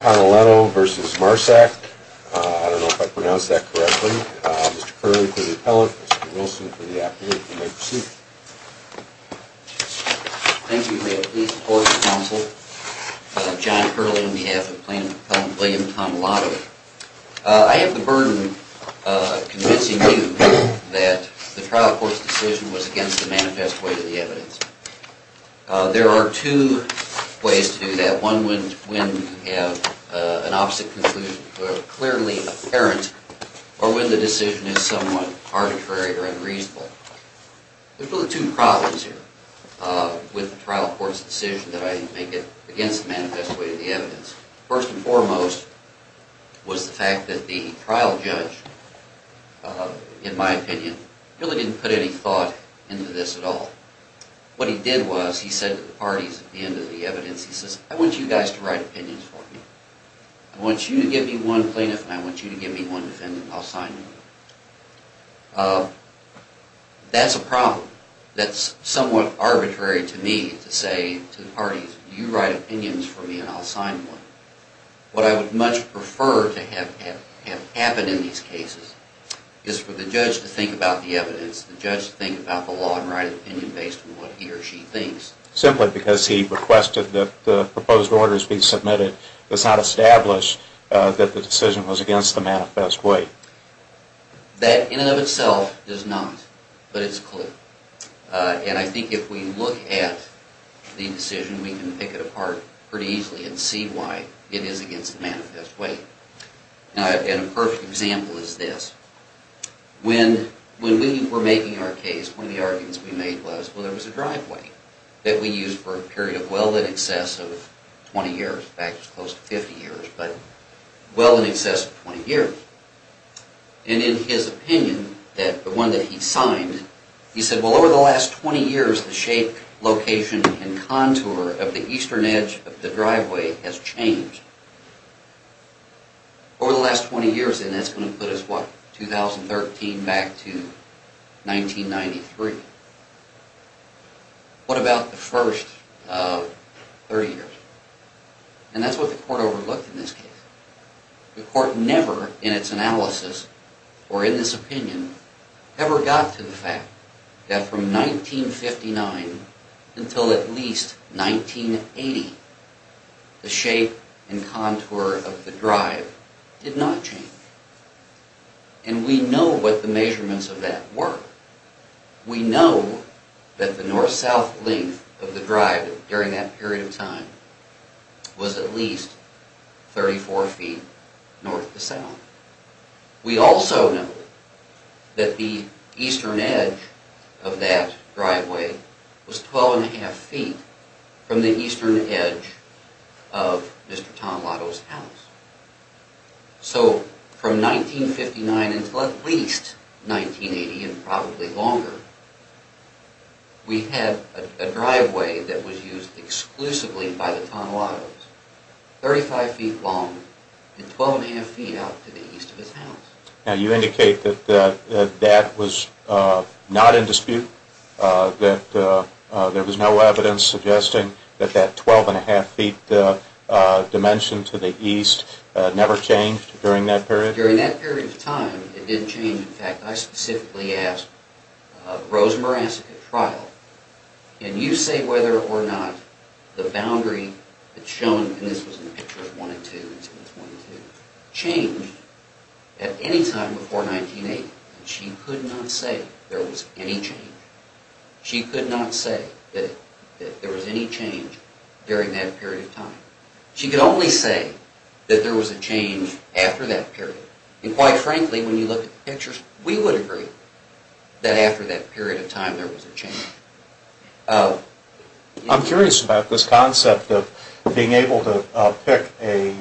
I don't know if I pronounced that correctly. Mr. Curley for the appellant. Mr. Wilson for the appellant. You may proceed. Thank you. May it please the court and counsel. John Curley on behalf of Plaintiff Appellant William Tonellato. I have the burden convincing you that the trial court's decision was against the manifest weight of the evidence. There are two ways to do that. One when you have an opposite conclusion, clearly apparent, or when the decision is somewhat arbitrary or unreasonable. There's really two problems here with the trial court's decision that I think it's against the manifest weight of the evidence. First and foremost was the fact that the trial judge, in my opinion, really didn't put any thought into this at all. What he did was he said to the parties at the end of the evidence, he says, I want you guys to write opinions for me. I want you to give me one plaintiff and I want you to give me one defendant and I'll sign them. That's a problem. That's somewhat arbitrary to me to say to the parties, you write opinions for me and I'll sign them. What I would much prefer to have happen in these cases is for the judge to think about the evidence, the judge to think about the law and write an opinion based on what he or she thinks. Simply because he requested that the proposed orders be submitted does not establish that the decision was against the manifest weight. That in and of itself does not, but it's clear. And I think if we look at the decision we can pick it apart pretty easily and see why it is against the manifest weight. A perfect example is this. When we were making our case, one of the arguments we made was there was a driveway that we used for a period of well in excess of 20 years. In fact, it was close to 50 years, but well in excess of 20 years. And in his opinion, the one that he signed, he said, well over the last 20 years the shape, location and contour of the eastern edge of the driveway has changed. Over the last 20 years, and that's going to put us, what, 2013 back to 1993. What about the first 30 years? And that's what the court overlooked in this case. The court never in its analysis or in this opinion ever got to the fact that from 1959 until at least 1980 the shape and contour of the drive did not change. And we know what the measurements of that were. We know that the north-south length of the drive during that period of time was at least 34 feet north to south. We also know that the eastern edge of that driveway was 12.5 feet from the eastern edge of Mr. Tonelato's house. So from 1959 until at least 1980 and probably longer, we had a driveway that was used exclusively by the Tonelatos, 35 feet long and 12.5 feet out to the east of his house. Now you indicate that that was not in dispute, that there was no evidence suggesting that that 12.5 feet dimension to the east never changed during that period? In fact, I specifically asked Rose Morasic at trial, can you say whether or not the boundary that's shown in this picture of 1 and 2 changed at any time before 1980? And she could not say there was any change. She could not say that there was any change during that period of time. She could only say that there was a change after that period. And quite frankly, when you look at the pictures, we would agree that after that period of time there was a change. I'm curious about this concept of being able to pick a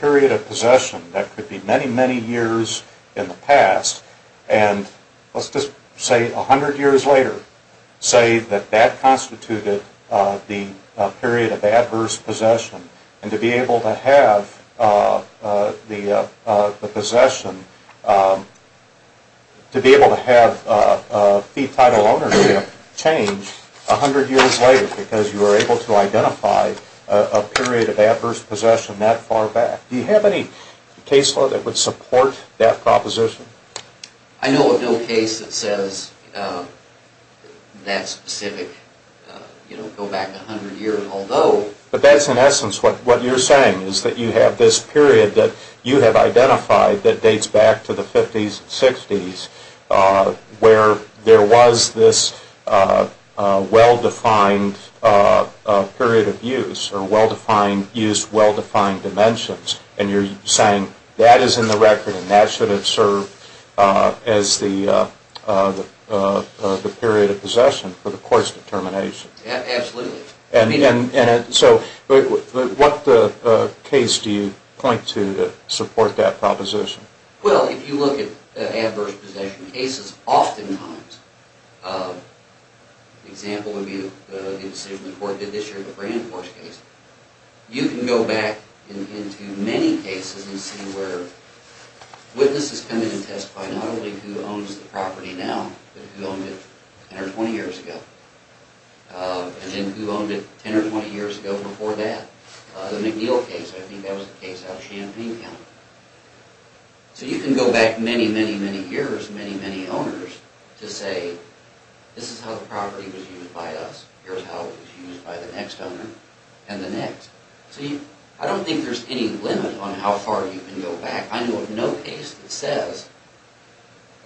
period of possession that could be many, many years in the past and let's just say 100 years later, say that that constituted the period of adverse possession and to be able to have the possession, to be able to have fee title ownership change 100 years later because you were able to identify a period of adverse possession that far back. Do you have any case law that would support that proposition? I know of no case that says that specific, you know, go back 100 years although. But that's in essence what you're saying is that you have this period that you have identified that dates back to the 50s and 60s where there was this well-defined period of use or well-defined use, well-defined dimensions. And you're saying that is in the record and that should have served as the period of possession for the court's determination. Absolutely. And so what case do you point to that support that proposition? Well, if you look at adverse possession cases oftentimes, an example would be the decision the court did this year in the Brand Force case. You can go back into many cases and see where witnesses come in and testify not only who owns the property now but who owned it 10 or 20 years ago and then who owned it 10 or 20 years ago before that. The McNeil case, I think that was the case out of Champaign County. So you can go back many, many, many years, many, many owners to say this is how the property was used by us, here's how it was used by the next owner and the next. So I don't think there's any limit on how far you can go back. I know of no case that says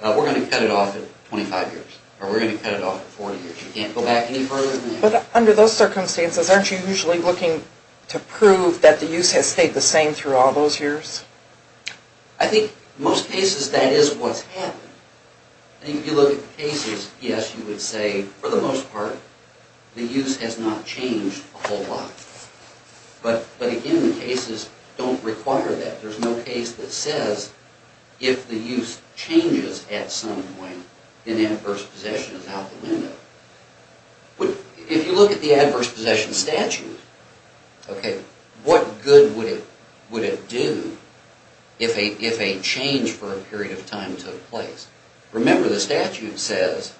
we're going to cut it off at 25 years or we're going to cut it off at 40 years. You can't go back any further than that. But under those circumstances, aren't you usually looking to prove that the use has stayed the same through all those years? I think most cases that is what's happened. If you look at cases, yes, you would say for the most part the use has not changed a whole lot. But again, the cases don't require that. There's no case that says if the use changes at some point, then adverse possession is out the window. If you look at the adverse possession statute, what good would it do if a change for a period of time took place? Remember the statute says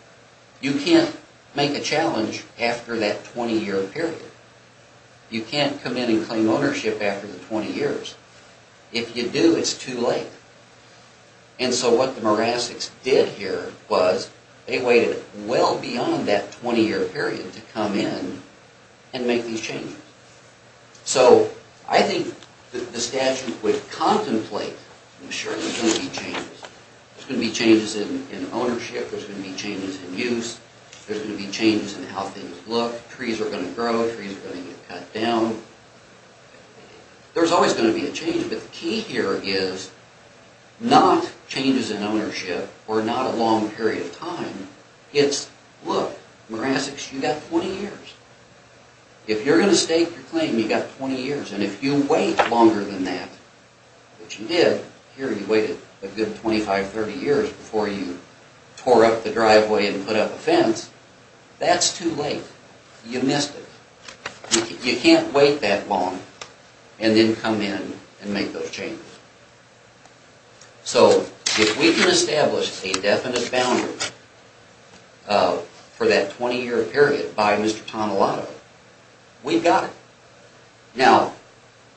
you can't make a challenge after that 20-year period. You can't come in and claim ownership after the 20 years. If you do, it's too late. And so what the Morassic's did here was they waited well beyond that 20-year period to come in and make these changes. So I think the statute would contemplate, I'm sure there's going to be changes. There's going to be changes in ownership. There's going to be changes in use. There's going to be changes in how things look. Trees are going to grow. Trees are going to get cut down. There's always going to be a change. But the key here is not changes in ownership or not a long period of time. It's, look, Morassic's, you've got 20 years. If you're going to stake your claim, you've got 20 years. And if you wait longer than that, which you did, here you waited a good 25, 30 years before you tore up the driveway and put up a fence, that's too late. You missed it. You can't wait that long and then come in and make those changes. So if we can establish a definite boundary for that 20-year period by Mr. Tonelato, we've got it. Now,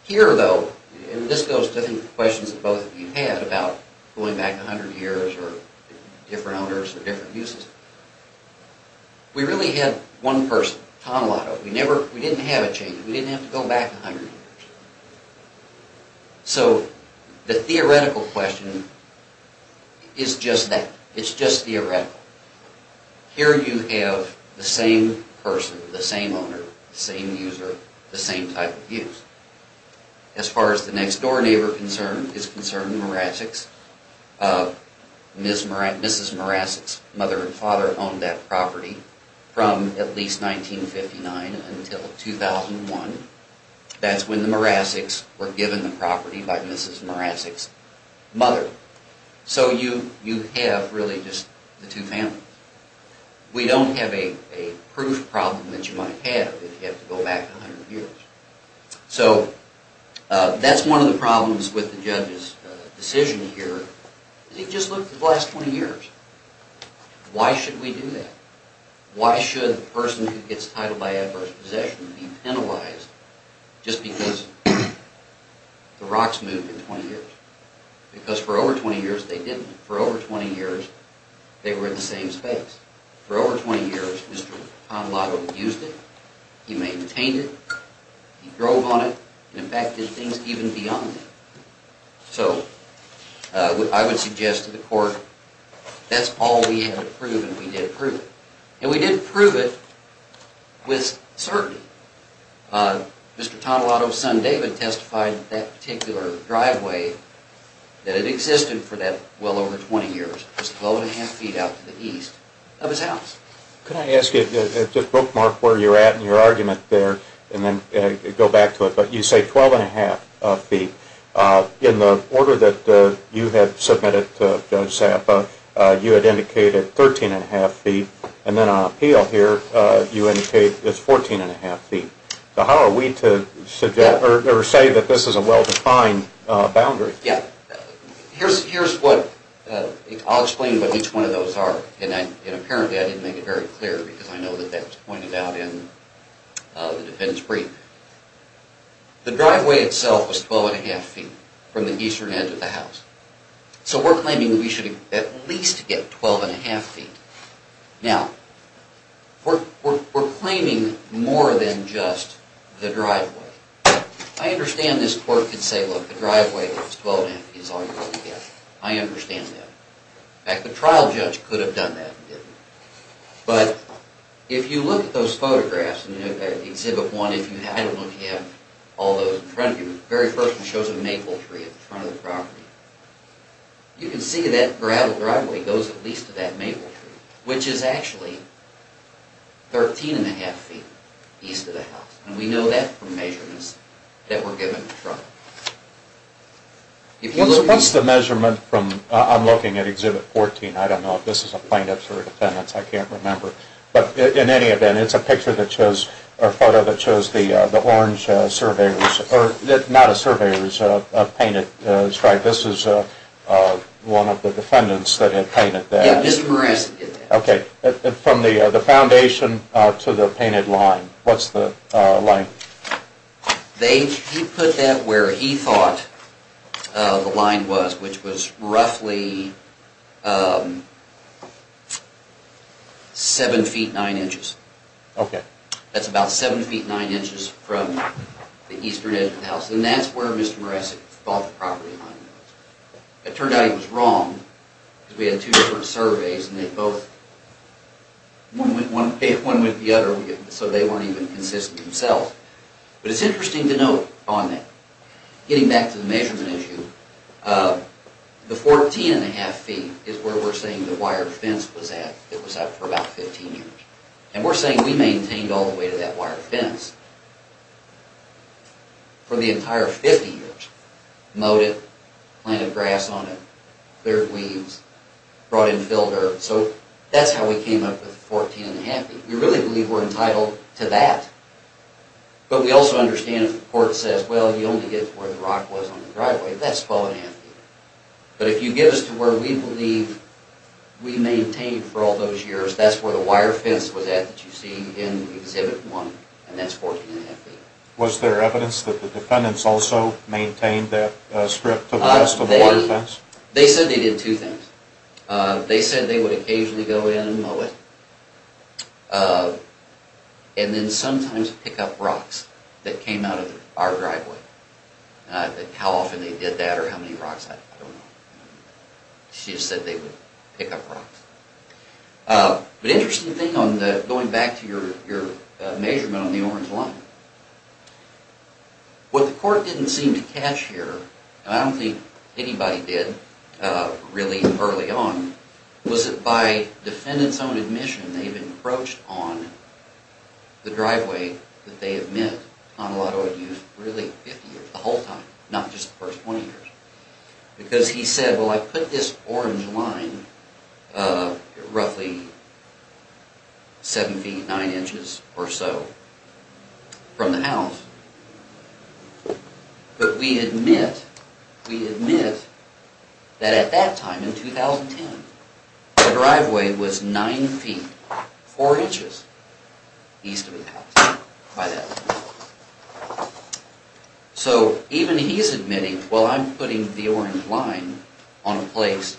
here, though, and this goes to, I think, questions that both of you had about going back 100 years or different owners or different uses. We really had one person, Tonelato. We didn't have a change. We didn't have to go back 100 years. So the theoretical question is just that. It's just theoretical. Here you have the same person, the same owner, the same user, the same type of use. As far as the next-door neighbor is concerned, the Morassix, Mrs. Morassix's mother and father owned that property from at least 1959 until 2001. That's when the Morassix were given the property by Mrs. Morassix's mother. So you have really just the two families. We don't have a proof problem that you might have if you have to go back 100 years. So that's one of the problems with the judge's decision here. He just looked at the last 20 years. Why should we do that? Why should a person who gets titled by adverse possession be penalized just because the rocks moved in 20 years? Because for over 20 years, they didn't. For over 20 years, they were in the same space. For over 20 years, Mr. Tonelato used it. He maintained it. He drove on it and, in fact, did things even beyond it. So I would suggest to the court that's all we have to prove, and we did prove it. And we did prove it with certainty. Mr. Tonelato's son David testified that that particular driveway, that it existed for that well over 20 years, was 12 1⁄2 feet out to the east of his house. Could I ask you to bookmark where you're at in your argument there and then go back to it? But you say 12 1⁄2 feet. In the order that you had submitted to Judge Sapa, you had indicated 13 1⁄2 feet. And then on appeal here, you indicated it's 14 1⁄2 feet. So how are we to suggest or say that this is a well-defined boundary? Yeah. Here's what – I'll explain what each one of those are. And apparently I didn't make it very clear because I know that that was pointed out in the defense brief. The driveway itself was 12 1⁄2 feet from the eastern edge of the house. So we're claiming we should at least get 12 1⁄2 feet. Now, we're claiming more than just the driveway. I understand this court could say, look, the driveway was 12 1⁄2 feet is all you're going to get. I understand that. In fact, the trial judge could have done that and didn't. But if you look at those photographs and you look at Exhibit 1, if you – I don't know if you have all those in front of you. The very first one shows a maple tree in front of the property. You can see that gravel driveway goes at least to that maple tree, which is actually 13 1⁄2 feet east of the house. And we know that from measurements that were given to trial. What's the measurement from – I'm looking at Exhibit 14. I don't know if this is a plaintiff's or a defendant's. I can't remember. But in any event, it's a picture that shows – or a photo that shows the orange surveyor's – or not a surveyor's painted stripe. This is one of the defendants that had painted that. Yeah, Mr. Perez did that. Okay. From the foundation to the painted line, what's the length? He put that where he thought the line was, which was roughly 7 feet 9 inches. Okay. That's about 7 feet 9 inches from the eastern edge of the house. And that's where Mr. Perez thought the property line was. It turned out he was wrong because we had two different surveys and they both – one went one way and one went the other, so they weren't even consistent themselves. But it's interesting to note on that, getting back to the measurement issue, the 14 1⁄2 feet is where we're saying the wire fence was at that was up for about 15 years. And we're saying we maintained all the way to that wire fence for the entire 50 years. Mowed it, planted grass on it, cleared weeds, brought in field herbs. So that's how we came up with 14 1⁄2 feet. We really believe we're entitled to that. But we also understand if the court says, well, you only get to where the rock was on the driveway, that's 12 1⁄2 feet. But if you get us to where we believe we maintained for all those years, that's where the wire fence was at that you see in Exhibit 1, and that's 14 1⁄2 feet. Was there evidence that the defendants also maintained that strip to the west of the wire fence? They said they did two things. They said they would occasionally go in and mow it, and then sometimes pick up rocks that came out of our driveway. How often they did that or how many rocks, I don't know. She just said they would pick up rocks. The interesting thing, going back to your measurement on the orange line, what the court didn't seem to catch here, and I don't think anybody did really early on, was that by defendants' own admission, they've encroached on the driveway that they admit Conrado had used really 50 years, the whole time, not just the first 20 years. Because he said, well, I put this orange line roughly 7 feet 9 inches or so from the house, but we admit that at that time, in 2010, the driveway was 9 feet 4 inches east of the house by that time. So even he's admitting, well, I'm putting the orange line on a place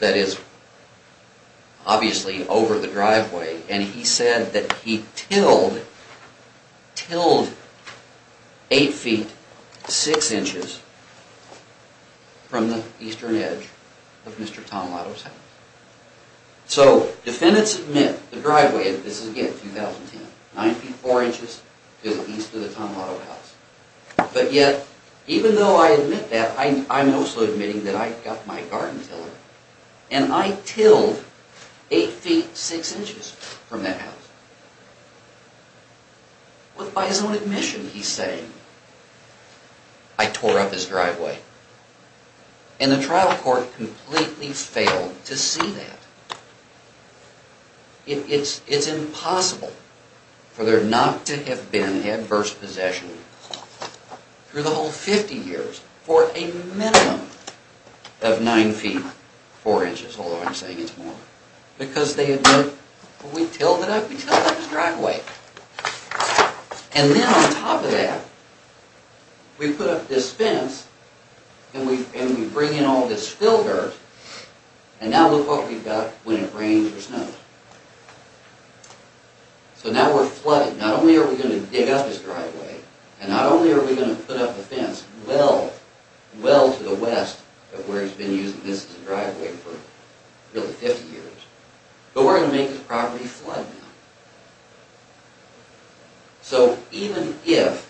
that is obviously over the driveway, and he said that he tilled 8 feet 6 inches from the eastern edge of Mr. Tonelato's house. So defendants admit the driveway, this is again 2010, 9 feet 4 inches to the east of the Tonelato house. But yet, even though I admit that, I'm also admitting that I got my garden tiller, and I tilled 8 feet 6 inches from that house. But by his own admission, he's saying, I tore up his driveway. And the trial court completely failed to see that. It's impossible for there not to have been adverse possession, through the whole 50 years, for a minimum of 9 feet 4 inches, although I'm saying it's more. Because they admit, well, we tilled it up, we tilled up his driveway. And then on top of that, we put up this fence, and we bring in all this filter, and now look what we've got when it rains or snows. So now we're flooded. Not only are we going to dig up his driveway, and not only are we going to put up a fence well, well to the west, of where he's been using this as a driveway for nearly 50 years, but we're going to make this property flood now. So even if,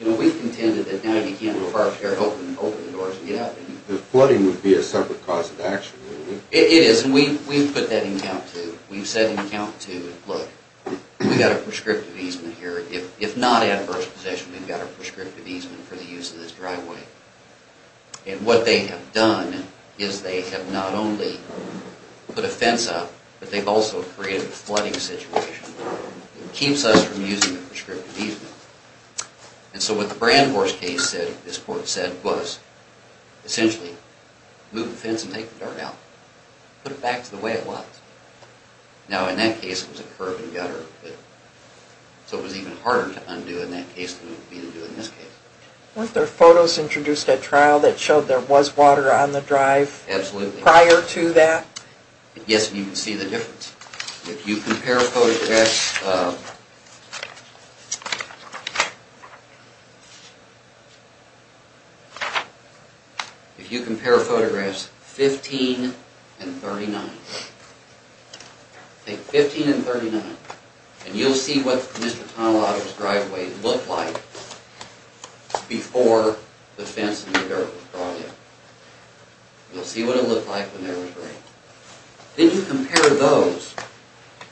you know, we've contended that now you can't go far as to open the doors and get out. The flooding would be a separate cause of action, wouldn't it? It is, and we've put that in account too. We've said in account too, look, we've got a prescriptive easement here. If not adverse possession, we've got a prescriptive easement for the use of this driveway. And what they have done is they have not only put a fence up, but they've also created a flooding situation. It keeps us from using the prescriptive easement. And so what the Brandhorst case said, this court said, was, essentially, move the fence and take the dirt out. Put it back to the way it was. Now, in that case, it was a curb and gutter, so it was even harder to undo in that case than it would be to do in this case. Weren't there photos introduced at trial that showed there was water on the drive prior to that? Yes, and you can see the difference. If you compare a photo... If you compare photographs 15 and 39, take 15 and 39, and you'll see what Mr. Tonelato's driveway looked like before the fence and the dirt was drawn in. You'll see what it looked like when there was rain. Then you compare those,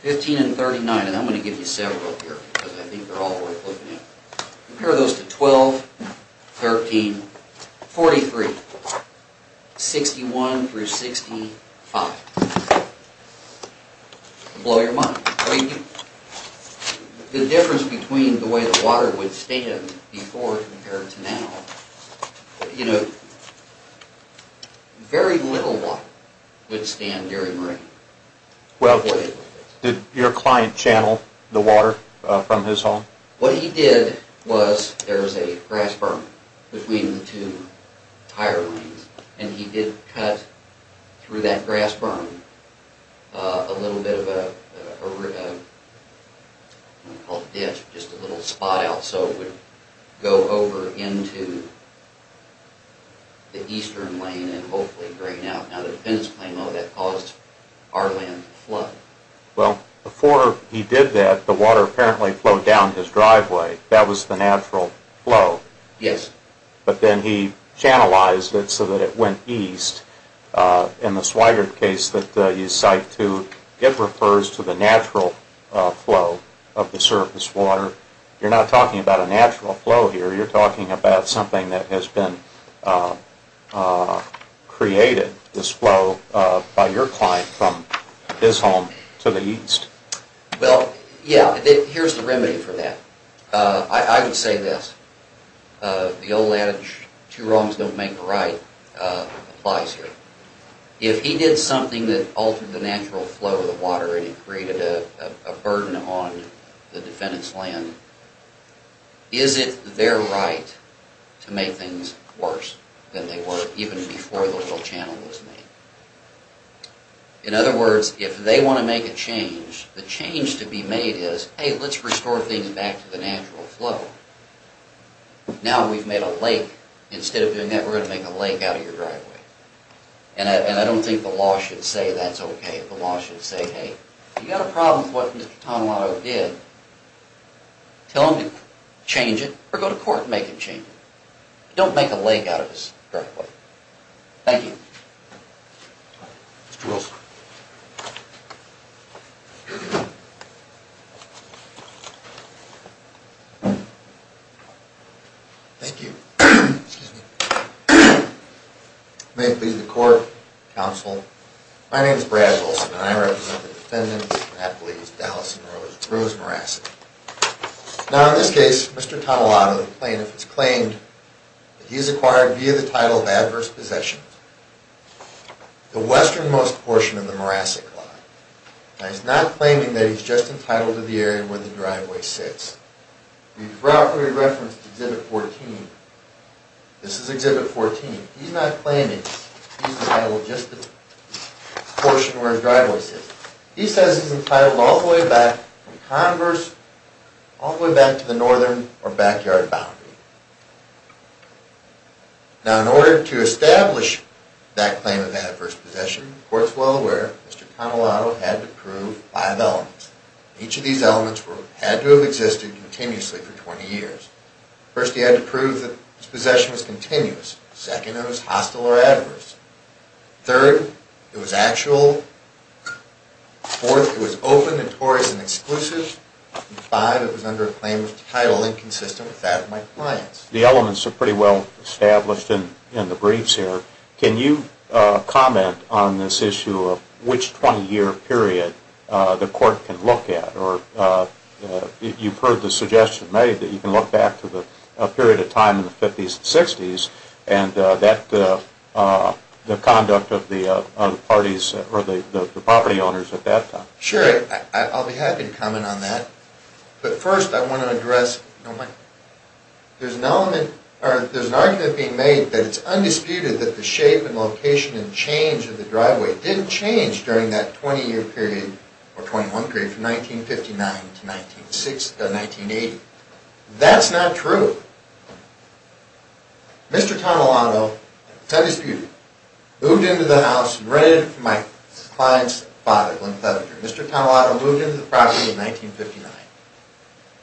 15 and 39, and I'm going to give you several here because I think they're all worth looking at. Compare those to 12, 13, 43, 61 through 65. Blow your mind. The difference between the way the water would stand before compared to now, you know, very little water would stand during rain. Well, did your client channel the water from his home? What he did was, there was a grass burn between the two tire lanes, and he did cut through that grass burn a little bit of a... what we call a ditch, just a little spot out, so it would go over into the eastern lane and hopefully drain out. Now, the defendant's claim, though, that caused our land to flood. Well, before he did that, the water apparently flowed down his driveway. That was the natural flow. Yes. But then he channelized it so that it went east. In the Swigert case that you cite too, it refers to the natural flow of the surface water. You're not talking about a natural flow here. You're talking about something that has been created, this flow, by your client from his home to the east. Well, yeah, here's the remedy for that. I would say this. The old adage, two wrongs don't make a right, applies here. If he did something that altered the natural flow of the water and it created a burden on the defendant's land, is it their right to make things worse than they were even before the little channel was made? In other words, if they want to make a change, the change to be made is, hey, let's restore things back to the natural flow. Now we've made a lake. Instead of doing that, we're going to make a lake out of your driveway. And I don't think the law should say that's okay. The law should say, hey, you've got a problem with what Mr. Tonelato did, tell him to change it or go to court and make him change it. Don't make a lake out of his driveway. Thank you. Mr. Wilson. Thank you. May it please the court, counsel. My name is Brad Wilson and I represent the defendants, Dallas and Rose, Rose and Morasset. Now in this case, Mr. Tonelato, the plaintiff, has claimed that he's acquired, via the title of adverse possession, the westernmost portion of the Morasset plot. Now he's not claiming that he's just entitled to the area where the driveway sits. We referenced Exhibit 14. This is Exhibit 14. He's not claiming he's entitled just to the portion where his driveway sits. He says he's entitled all the way back from Converse, all the way back to the northern or backyard boundary. Now in order to establish that claim of adverse possession, the court's well aware Mr. Tonelato had to prove five elements. Each of these elements had to have existed continuously for 20 years. First, he had to prove that his possession was continuous. Second, it was hostile or adverse. Third, it was actual. Fourth, it was open, notorious, and exclusive. And five, it was under a claim of title inconsistent with that of my client's. The elements are pretty well established in the briefs here. Can you comment on this issue of which 20-year period the court can look at? Or you've heard the suggestion made that you can look back to the period of time in the 50s and 60s, and the conduct of the parties or the property owners at that time. Sure, I'll be happy to comment on that. But first I want to address, there's an argument being made that it's undisputed that the shape and location and change of the driveway didn't change during that 20-year period or 21 period from 1959 to 1980. That's not true. Mr. Tonelato, that's undisputed, moved into the house and rented it from my client's father, Glenn Fettinger. Mr. Tonelato moved into the property in 1959.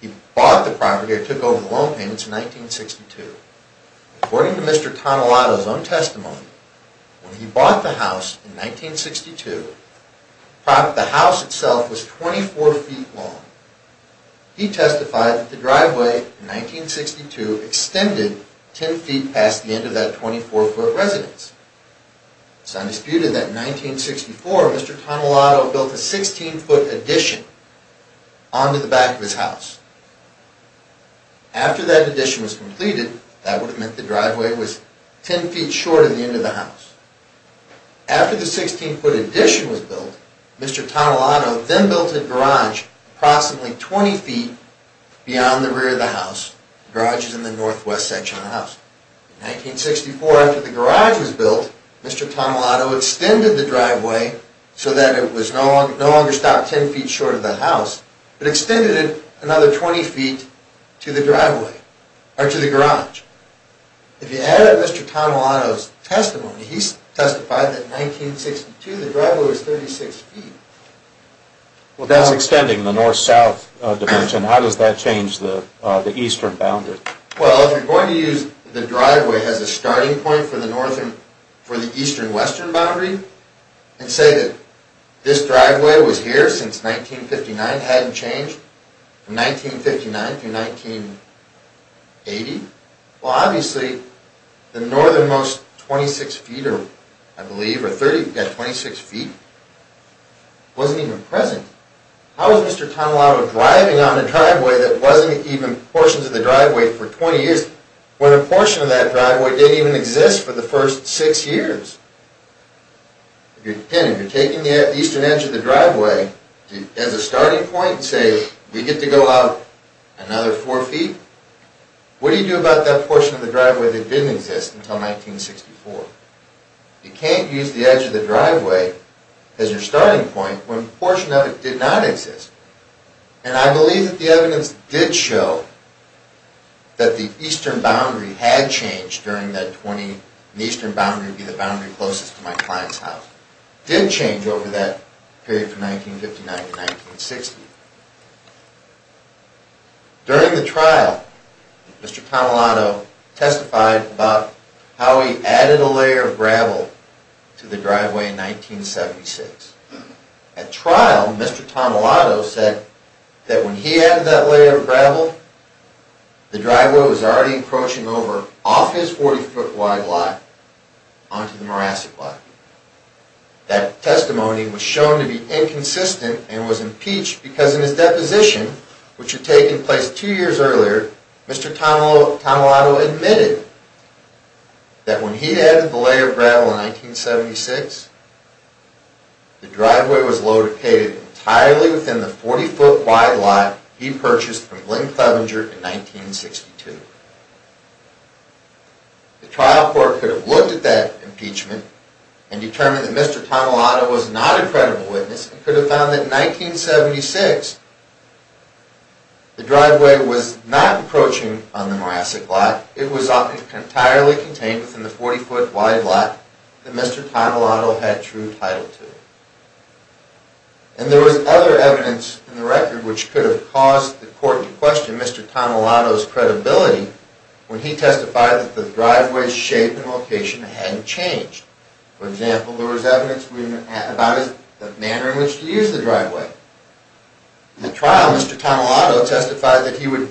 He bought the property or took over the loan payments in 1962. According to Mr. Tonelato's own testimony, when he bought the house in 1962, the house itself was 24 feet long. He testified that the driveway in 1962 extended 10 feet past the end of that 24-foot residence. It's undisputed that in 1964, Mr. Tonelato built a 16-foot addition onto the back of his house. After that addition was completed, that would have meant the driveway was 10 feet short of the end of the house. After the 16-foot addition was built, Mr. Tonelato then built a garage approximately 20 feet beyond the rear of the house. The garage is in the northwest section of the house. In 1964, after the garage was built, Mr. Tonelato extended the driveway so that it was no longer stopped 10 feet short of the house, but extended it another 20 feet to the garage. If you add up Mr. Tonelato's testimony, he testified that in 1962 the driveway was 36 feet. Well, that's extending the north-south dimension. How does that change the eastern boundary? Well, if you're going to use the driveway as a starting point for the eastern-western boundary, and say that this driveway was here since 1959, hadn't changed from 1959 through 1980, well, obviously the northernmost 26 feet, I believe, or 30, you've got 26 feet, wasn't even present. How was Mr. Tonelato driving on a driveway that wasn't even portions of the driveway for 20 years, when a portion of that driveway didn't even exist for the first six years? Again, if you're taking the eastern edge of the driveway as a starting point, say we get to go out another four feet, what do you do about that portion of the driveway that didn't exist until 1964? You can't use the edge of the driveway as your starting point when a portion of it did not exist. And I believe that the evidence did show that the eastern boundary had changed during that 20, and the eastern boundary would be the boundary closest to my client's house. It did change over that period from 1959 to 1960. During the trial, Mr. Tonelato testified about how he added a layer of gravel to the driveway in 1976. At trial, Mr. Tonelato said that when he added that layer of gravel, the driveway was already encroaching over off his 40-foot wide lot onto the Morasset lot. That testimony was shown to be inconsistent and was impeached because in his deposition, which had taken place two years earlier, Mr. Tonelato admitted that when he added the layer of gravel in 1976, the driveway was located entirely within the 40-foot wide lot he purchased from Lynn Clevenger in 1962. The trial court could have looked at that impeachment and determined that Mr. Tonelato was not a credible witness and could have found that in 1976, the driveway was not encroaching on the Morasset lot, it was entirely contained within the 40-foot wide lot that Mr. Tonelato had true title to. And there was other evidence in the record which could have caused the court to question Mr. Tonelato's credibility when he testified that the driveway's shape and location hadn't changed. For example, there was evidence about the manner in which he used the driveway. In the trial, Mr. Tonelato testified that he would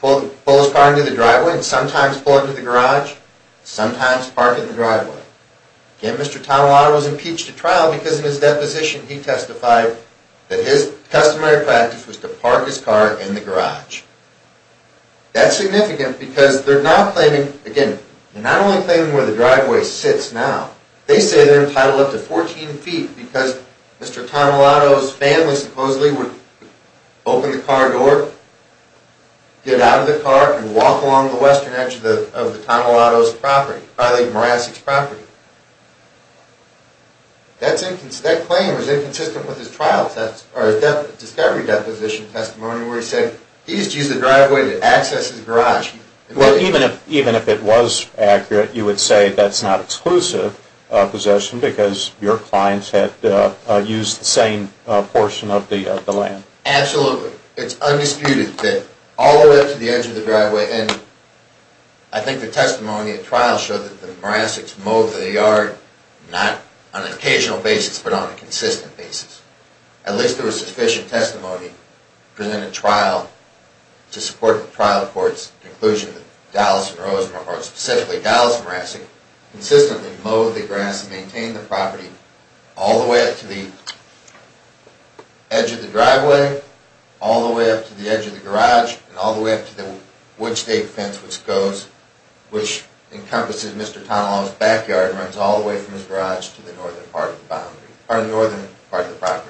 pull his car into the driveway, and sometimes pull it into the garage, and sometimes park it in the driveway. Again, Mr. Tonelato was impeached at trial because in his deposition he testified that his customary practice was to park his car in the garage. That's significant because they're not only claiming where the driveway sits now, they say they're entitled up to 14 feet because Mr. Tonelato's family supposedly would open the car door, get out of the car, and walk along the western edge of the Tonelato's property, probably Morasset's property. That claim is inconsistent with his discovery deposition testimony where he said Well, even if it was accurate, you would say that's not exclusive possession because your clients had used the same portion of the land. Absolutely. It's undisputed that all the way up to the edge of the driveway, and I think the testimony at trial showed that the Morassets mowed the yard not on an occasional basis, but on a consistent basis. At least there was sufficient testimony to support the trial court's conclusion that Dallas and Rosemore, or specifically Dallas and Morasset, consistently mowed the grass and maintained the property all the way up to the edge of the driveway, all the way up to the edge of the garage, and all the way up to the wood stake fence which encompasses Mr. Tonelato's backyard and runs all the way from his garage to the northern part of the property.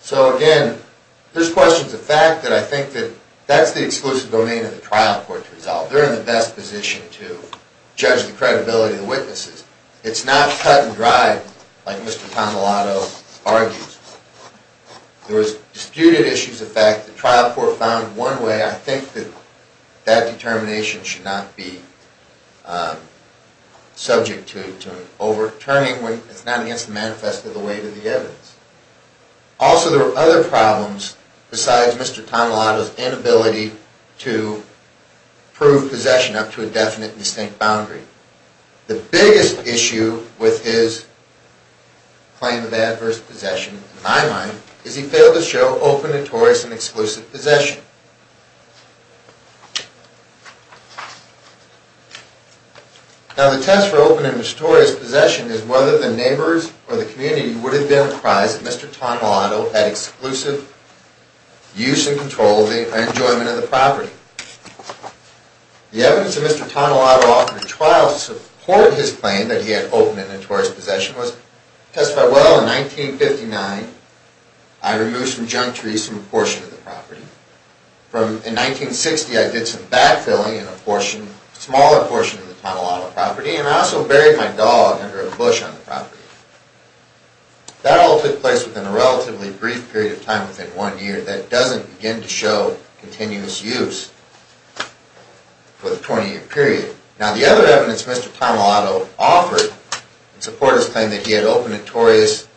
So again, there's questions of fact that I think that that's the exclusive domain of the trial court to resolve. They're in the best position to judge the credibility of the witnesses. It's not cut and dry like Mr. Tonelato argues. There was disputed issues of fact. The trial court found one way. I think that that determination should not be subject to overturning. It's not against the manifest of the weight of the evidence. Also, there were other problems besides Mr. Tonelato's inability to prove possession up to a definite and distinct boundary. The biggest issue with his claim of adverse possession, in my mind, is he failed to show open and notorious and exclusive possession. Now the test for open and notorious possession is whether the neighbors or the community would have been apprised that Mr. Tonelato had exclusive use and control of the enjoyment of the property. The evidence that Mr. Tonelato offered in trial to support his claim that he had open and notorious possession was testified well in 1959. I removed some junk trees from a portion of the property. In 1960, I did some bat filling in a smaller portion of the Tonelato property, and I also buried my dog under a bush on the property. That all took place within a relatively brief period of time, within one year, that doesn't begin to show continuous use for the 20-year period. Now the other evidence Mr. Tonelato offered in support of his claim that he had open and notorious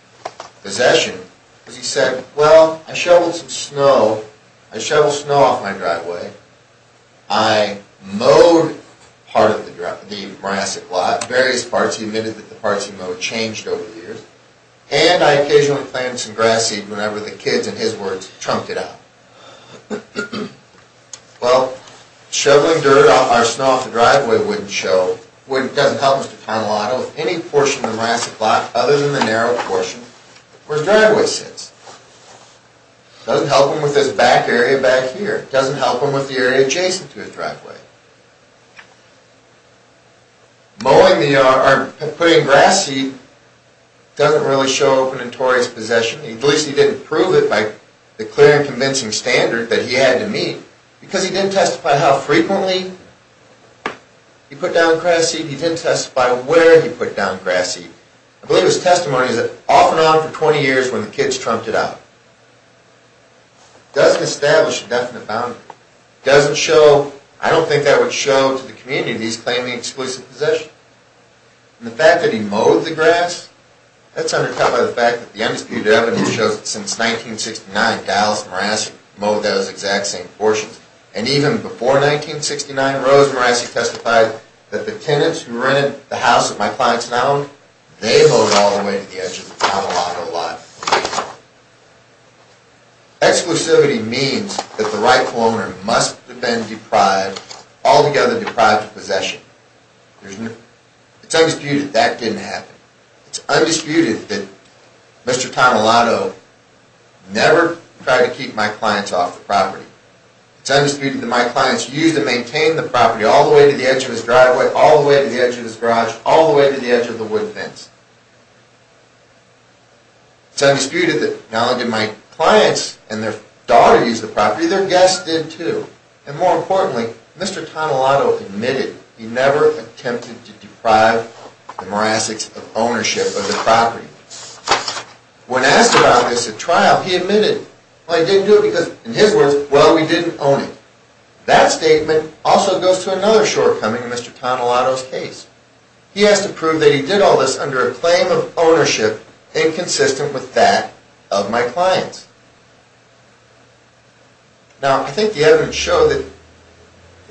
possession was he said, well, I shoveled some snow off my driveway. I mowed part of the morass a lot, various parts. He admitted that the parts he mowed changed over the years. And I occasionally planted some grass seed whenever the kids, in his words, chunked it out. Well, shoveling dirt or snow off the driveway doesn't help Mr. Tonelato with any portion of the morass a lot other than the narrow portion where his driveway sits. It doesn't help him with his back area back here. It doesn't help him with the area adjacent to his driveway. Mowing or putting grass seed doesn't really show open and notorious possession. At least he didn't prove it by the clear and convincing standard that he had to meet because he didn't testify how frequently he put down grass seed. He didn't testify where he put down grass seed. I believe his testimony is that off and on for 20 years when the kids chunked it out. It doesn't establish a definite boundary. It doesn't show, I don't think that would show to the community that he's claiming exclusive possession. The fact that he mowed the grass, that's undercut by the fact that the undisputed evidence shows that since 1969 Dallas and Morassie mowed those exact same portions. And even before 1969, Rose Morassie testified that the tenants who rented the house that my clients now owned, they mowed all the way to the edge of the Tonelato lot. Exclusivity means that the rightful owner must have been deprived, altogether deprived of possession. It's undisputed that that didn't happen. It's undisputed that Mr. Tonelato never tried to keep my clients off the property. It's undisputed that my clients used and maintained the property all the way to the edge of his driveway, all the way to the edge of his garage, all the way to the edge of the wood fence. It's undisputed that not only did my clients and their daughter use the property, their guests did too. And more importantly, Mr. Tonelato admitted he never attempted to deprive the Morassies of ownership of the property. When asked about this at trial, he admitted, well he didn't do it because in his words, well we didn't own it. That statement also goes to another shortcoming in Mr. Tonelato's case. He has to prove that he did all this under a claim of ownership inconsistent with that of my clients. Now, I think the evidence showed that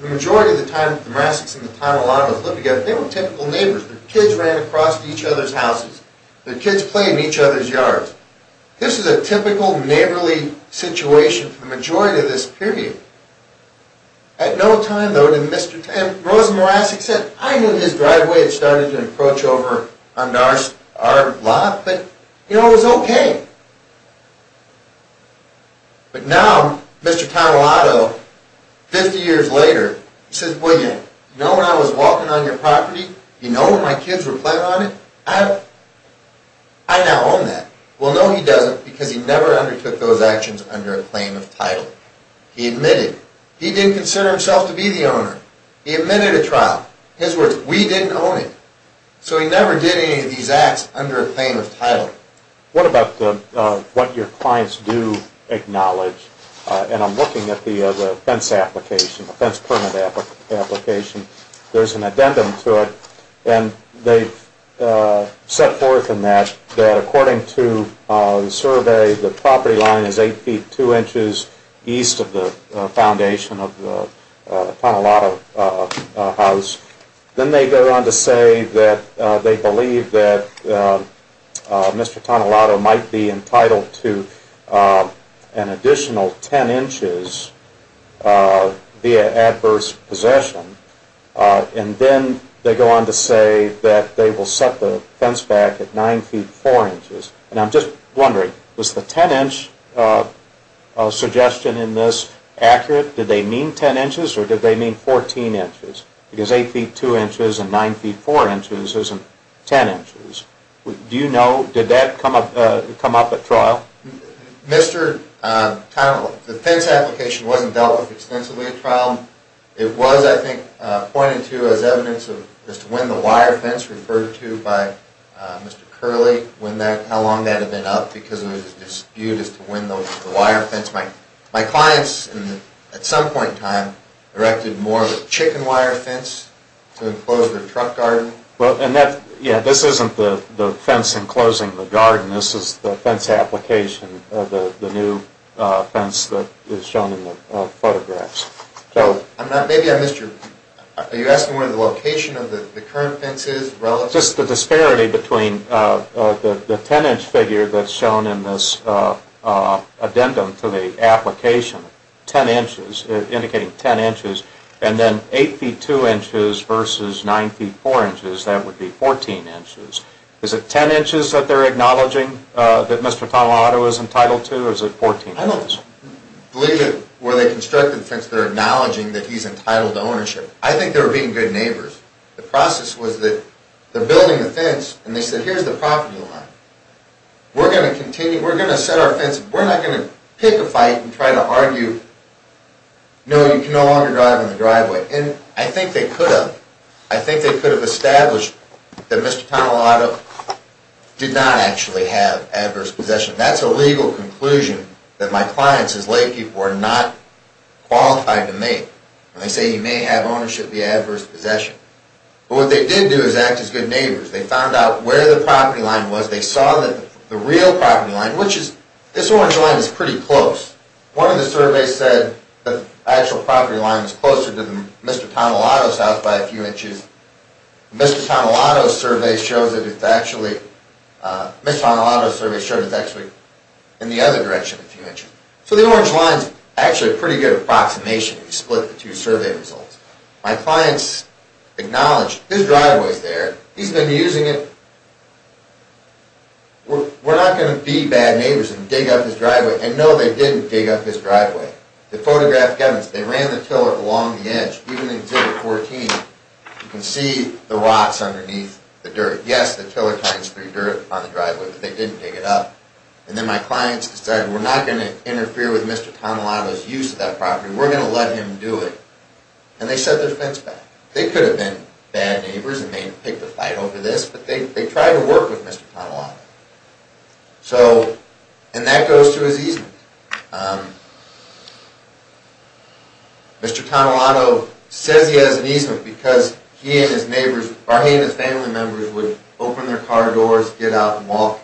the majority of the time, the Morassies and the Tonelatos lived together, they were typical neighbors. Their kids ran across to each other's houses. Their kids played in each other's yards. This is a typical neighborly situation for the majority of this period. At no time, though, did Mr. Tonelato, and Rosa Morassie said, I knew his driveway had started to approach over onto our lot, but you know, it was okay. But now, Mr. Tonelato, 50 years later, says, well you know when I was walking on your property, you know where my kids were playing on it? I now own that. Well no he doesn't, because he never undertook those actions under a claim of title. He admitted, he didn't consider himself to be the owner. He admitted at trial, his words, we didn't own it. So he never did any of these acts under a claim of title. What about what your clients do acknowledge? And I'm looking at the fence application, the fence permit application. There's an addendum to it, and they've set forth in that, that according to the survey, the property line is 8 feet 2 inches east of the foundation of the Tonelato house. Then they go on to say that they believe that Mr. Tonelato might be entitled to an additional 10 inches via adverse possession, and then they go on to say that they will set the fence back at 9 feet 4 inches. And I'm just wondering, was the 10 inch suggestion in this accurate? Did they mean 10 inches, or did they mean 14 inches? Because 8 feet 2 inches and 9 feet 4 inches isn't 10 inches. Do you know, did that come up at trial? Mr. Tonelato, the fence application wasn't dealt with extensively at trial. It was, I think, pointed to as evidence as to when the wire fence referred to by Mr. Curley, when that, how long that had been up, because there was a dispute as to when the wire fence might. My clients, at some point in time, erected more of a chicken wire fence to enclose their truck garden. Well, and that, yeah, this isn't the fence enclosing the garden. This is the fence application of the new fence that is shown in the photographs. So, I'm not, maybe I missed your, are you asking where the location of the current fence is relative? Just the disparity between the 10 inch figure that's shown in this addendum to the application, 10 inches, indicating 10 inches, and then 8 feet 2 inches versus 9 feet 4 inches. That would be 14 inches. Is it 10 inches that they're acknowledging that Mr. Tonelato is entitled to, or is it 14 inches? I don't believe that where they constructed the fence they're acknowledging that he's entitled to ownership. I think they were being good neighbors. The process was that they're building the fence, and they said, here's the property line. We're going to continue, we're going to set our fence, we're not going to pick a fight and try to argue, no, you can no longer drive in the driveway. And I think they could have. I think they could have established that Mr. Tonelato did not actually have adverse possession. That's a legal conclusion that my clients as laypeople are not qualified to make. And they say he may have ownership via adverse possession. But what they did do is act as good neighbors. They found out where the property line was. They saw that the real property line, which is, this orange line is pretty close. One of the surveys said the actual property line was closer to Mr. Tonelato's house by a few inches. Mr. Tonelato's survey shows that it's actually, Mr. Tonelato's survey shows it's actually in the other direction a few inches. So the orange line is actually a pretty good approximation if you split the two survey results. My clients acknowledged, his driveway is there, he's been using it, we're not going to be bad neighbors and dig up his driveway. And no, they didn't dig up his driveway. They photographed evidence. They ran the tiller along the edge. Even in exhibit 14, you can see the rocks underneath the dirt. Yes, the tiller finds through dirt on the driveway, but they didn't dig it up. And then my clients decided, we're not going to interfere with Mr. Tonelato's use of that property. We're going to let him do it. And they set their fence back. They could have been bad neighbors and may have picked a fight over this, but they tried to work with Mr. Tonelato. So, and that goes to his easement. Mr. Tonelato says he has an easement because he and his neighbors, or he and his family members would open their car doors, get out and walk.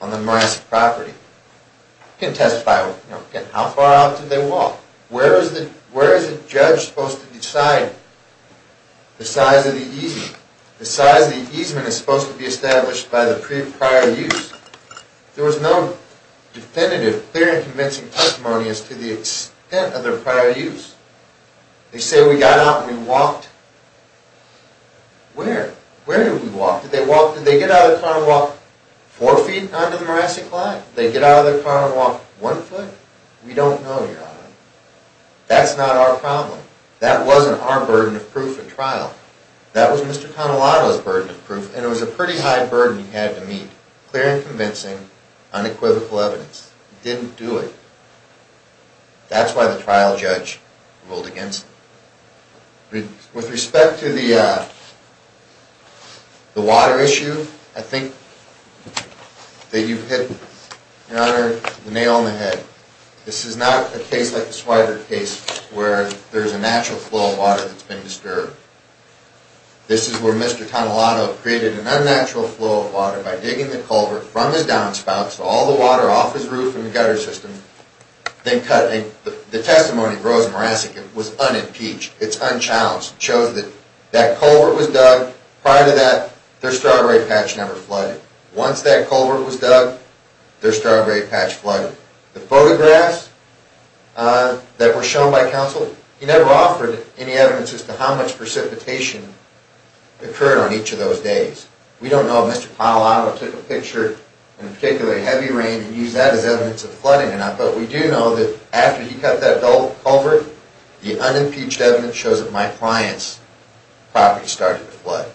On the Morassic property. You can testify. How far out did they walk? Where is the judge supposed to decide the size of the easement? The size of the easement is supposed to be established by the prior use. There was no definitive, clear and convincing testimony as to the extent of their prior use. They say we got out and we walked. Where? Where did we walk? Did they walk? Did they get out of their car and walk four feet onto the Morassic line? Did they get out of their car and walk one foot? We don't know, Your Honor. That's not our problem. That wasn't our burden of proof in trial. That was Mr. Tonelato's burden of proof, and it was a pretty high burden he had to meet. Clear and convincing, unequivocal evidence. He didn't do it. That's why the trial judge ruled against him. With respect to the water issue, I think that you've hit, Your Honor, the nail on the head. This is not a case like the Swyder case where there's a natural flow of water that's been disturbed. This is where Mr. Tonelato created an unnatural flow of water by digging the culvert from his downspouts to all the water off his roof in the gutter system, then cutting it. The testimony of Rosen Morassic was unimpeached. It's unchallenged. It shows that that culvert was dug. Prior to that, their strawberry patch never flooded. Once that culvert was dug, their strawberry patch flooded. The photographs that were shown by counsel, he never offered any evidence as to how much precipitation occurred on each of those days. We don't know if Mr. Tonelato took a picture in particularly heavy rain and used that as evidence of flooding or not, but we do know that after he cut that culvert, the unimpeached evidence shows that my client's property started to flood.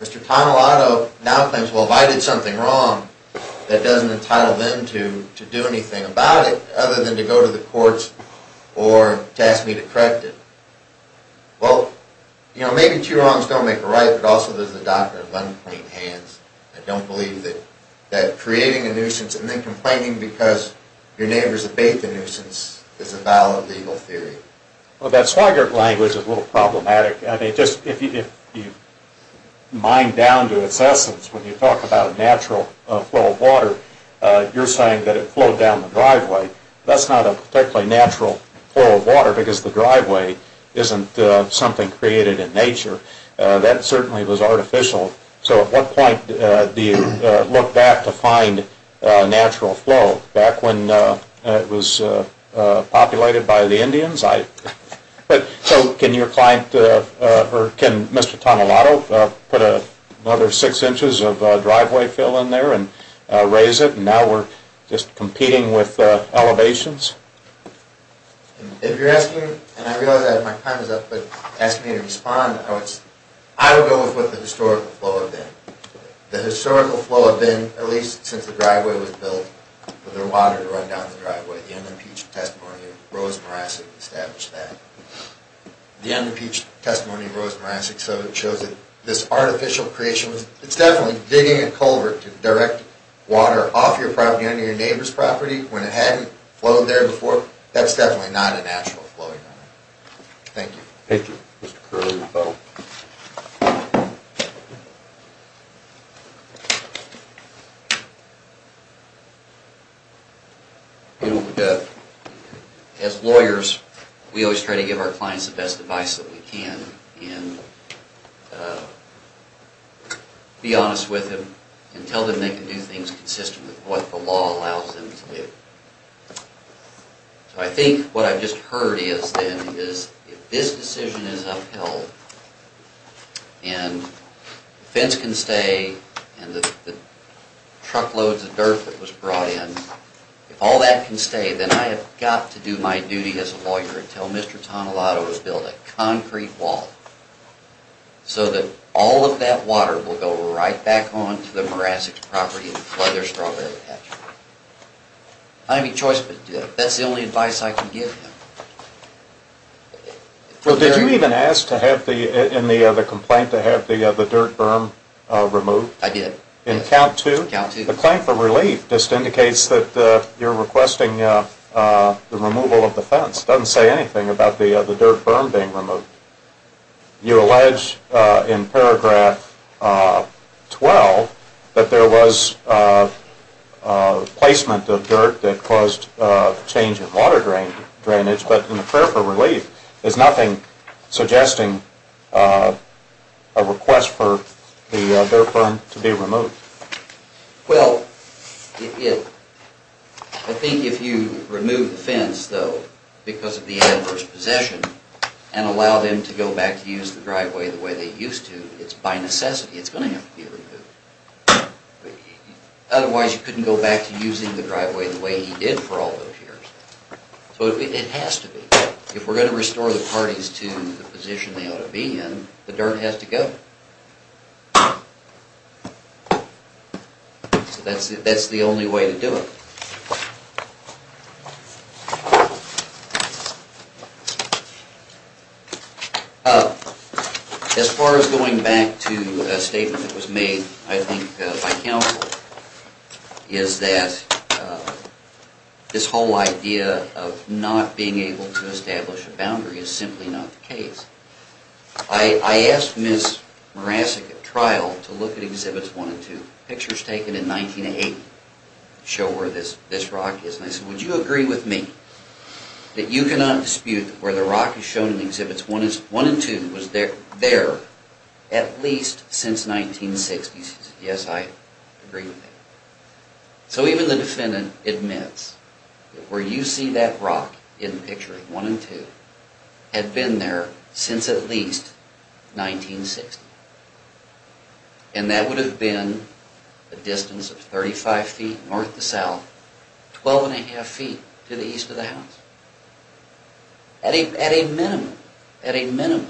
Mr. Tonelato now claims, well, if I did something wrong, that doesn't entitle them to do anything about it other than to go to the courts or to ask me to correct it. Well, you know, maybe two wrongs don't make a right, but also there's the doctrine of unclean hands. I don't believe that creating a nuisance and then complaining because your neighbors abated the nuisance is a valid legal theory. Well, that swagger language is a little problematic. I mean, just if you mine down to its essence, when you talk about a natural flow of water, you're saying that it flowed down the driveway. That's not a particularly natural flow of water because the driveway isn't something created in nature. That certainly was artificial. So at what point do you look back to find natural flow? Back when it was populated by the Indians? So can your client or can Mr. Tonelato put another six inches of driveway fill in there and raise it? And now we're just competing with elevations? If you're asking, and I realize my time is up, but ask me to respond, I would go with what the historical flow had been. The historical flow had been, at least since the driveway was built, for the water to run down the driveway. The unimpeached testimony of Rose Morassic established that. The unimpeached testimony of Rose Morassic showed that this artificial creation was definitely digging a culvert to direct water off your property, under your neighbor's property, when it hadn't flowed there before. That's definitely not a natural flow of water. Thank you. Thank you. Mr. Curley, the vote. As lawyers, we always try to give our clients the best advice that we can. And be honest with them and tell them they can do things consistent with what the law allows them to do. So I think what I've just heard is, then, is if this decision is upheld and the fence can stay and the truckloads of dirt that was brought in, if all that can stay, then I have got to do my duty as a lawyer and tell Mr. Tonelato to build a concrete wall so that all of that water will go right back on to the Morassic property and flood their strawberry patch. I don't have any choice but to do it. That's the only advice I can give him. Well, did you even ask in the complaint to have the dirt berm removed? I did. In count two? In count two. The claim for relief just indicates that you're requesting the removal of the fence. It doesn't say anything about the dirt berm being removed. You allege in paragraph 12 that there was placement of dirt that caused change in water drainage, but in the prayer for relief, there's nothing suggesting a request for the dirt berm to be removed. Well, I think if you remove the fence, though, because of the adverse possession and allow them to go back to use the driveway the way they used to, it's by necessity it's going to have to be removed. Otherwise, you couldn't go back to using the driveway the way he did for all those years. So it has to be. If we're going to restore the parties to the position they ought to be in, the dirt has to go. So that's the only way to do it. Thank you. As far as going back to a statement that was made, I think, by counsel, is that this whole idea of not being able to establish a boundary is simply not the case. I asked Ms. Morassic at trial to look at Exhibits 1 and 2. Pictures taken in 1980 show where this rock is. And I said, would you agree with me that you cannot dispute that where the rock is shown in Exhibits 1 and 2 was there at least since 1960? She said, yes, I agree with that. So even the defendant admits that where you see that rock in the picture, 1 and 2, had been there since at least 1960. And that would have been a distance of 35 feet north to south, 12 and a half feet to the east of the house. At a minimum,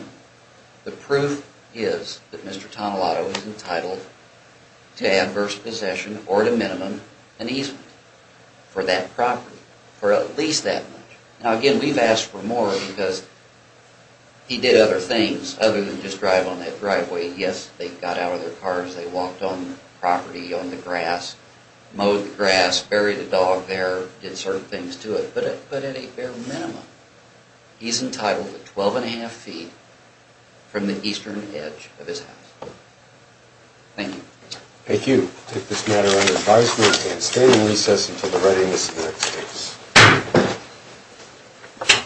the proof is that Mr. Tonelato is entitled to adverse possession, or at a minimum, an easement for that property, for at least that much. Now, again, we've asked for more because he did other things other than just drive on that driveway. Yes, they got out of their cars, they walked on the property, on the grass, mowed the grass, buried a dog there, did certain things to it. But at a bare minimum, he's entitled to 12 and a half feet from the eastern edge of his house. Thank you. Thank you. We'll take this matter under advisement. And stand in recess until the writing is in the next case.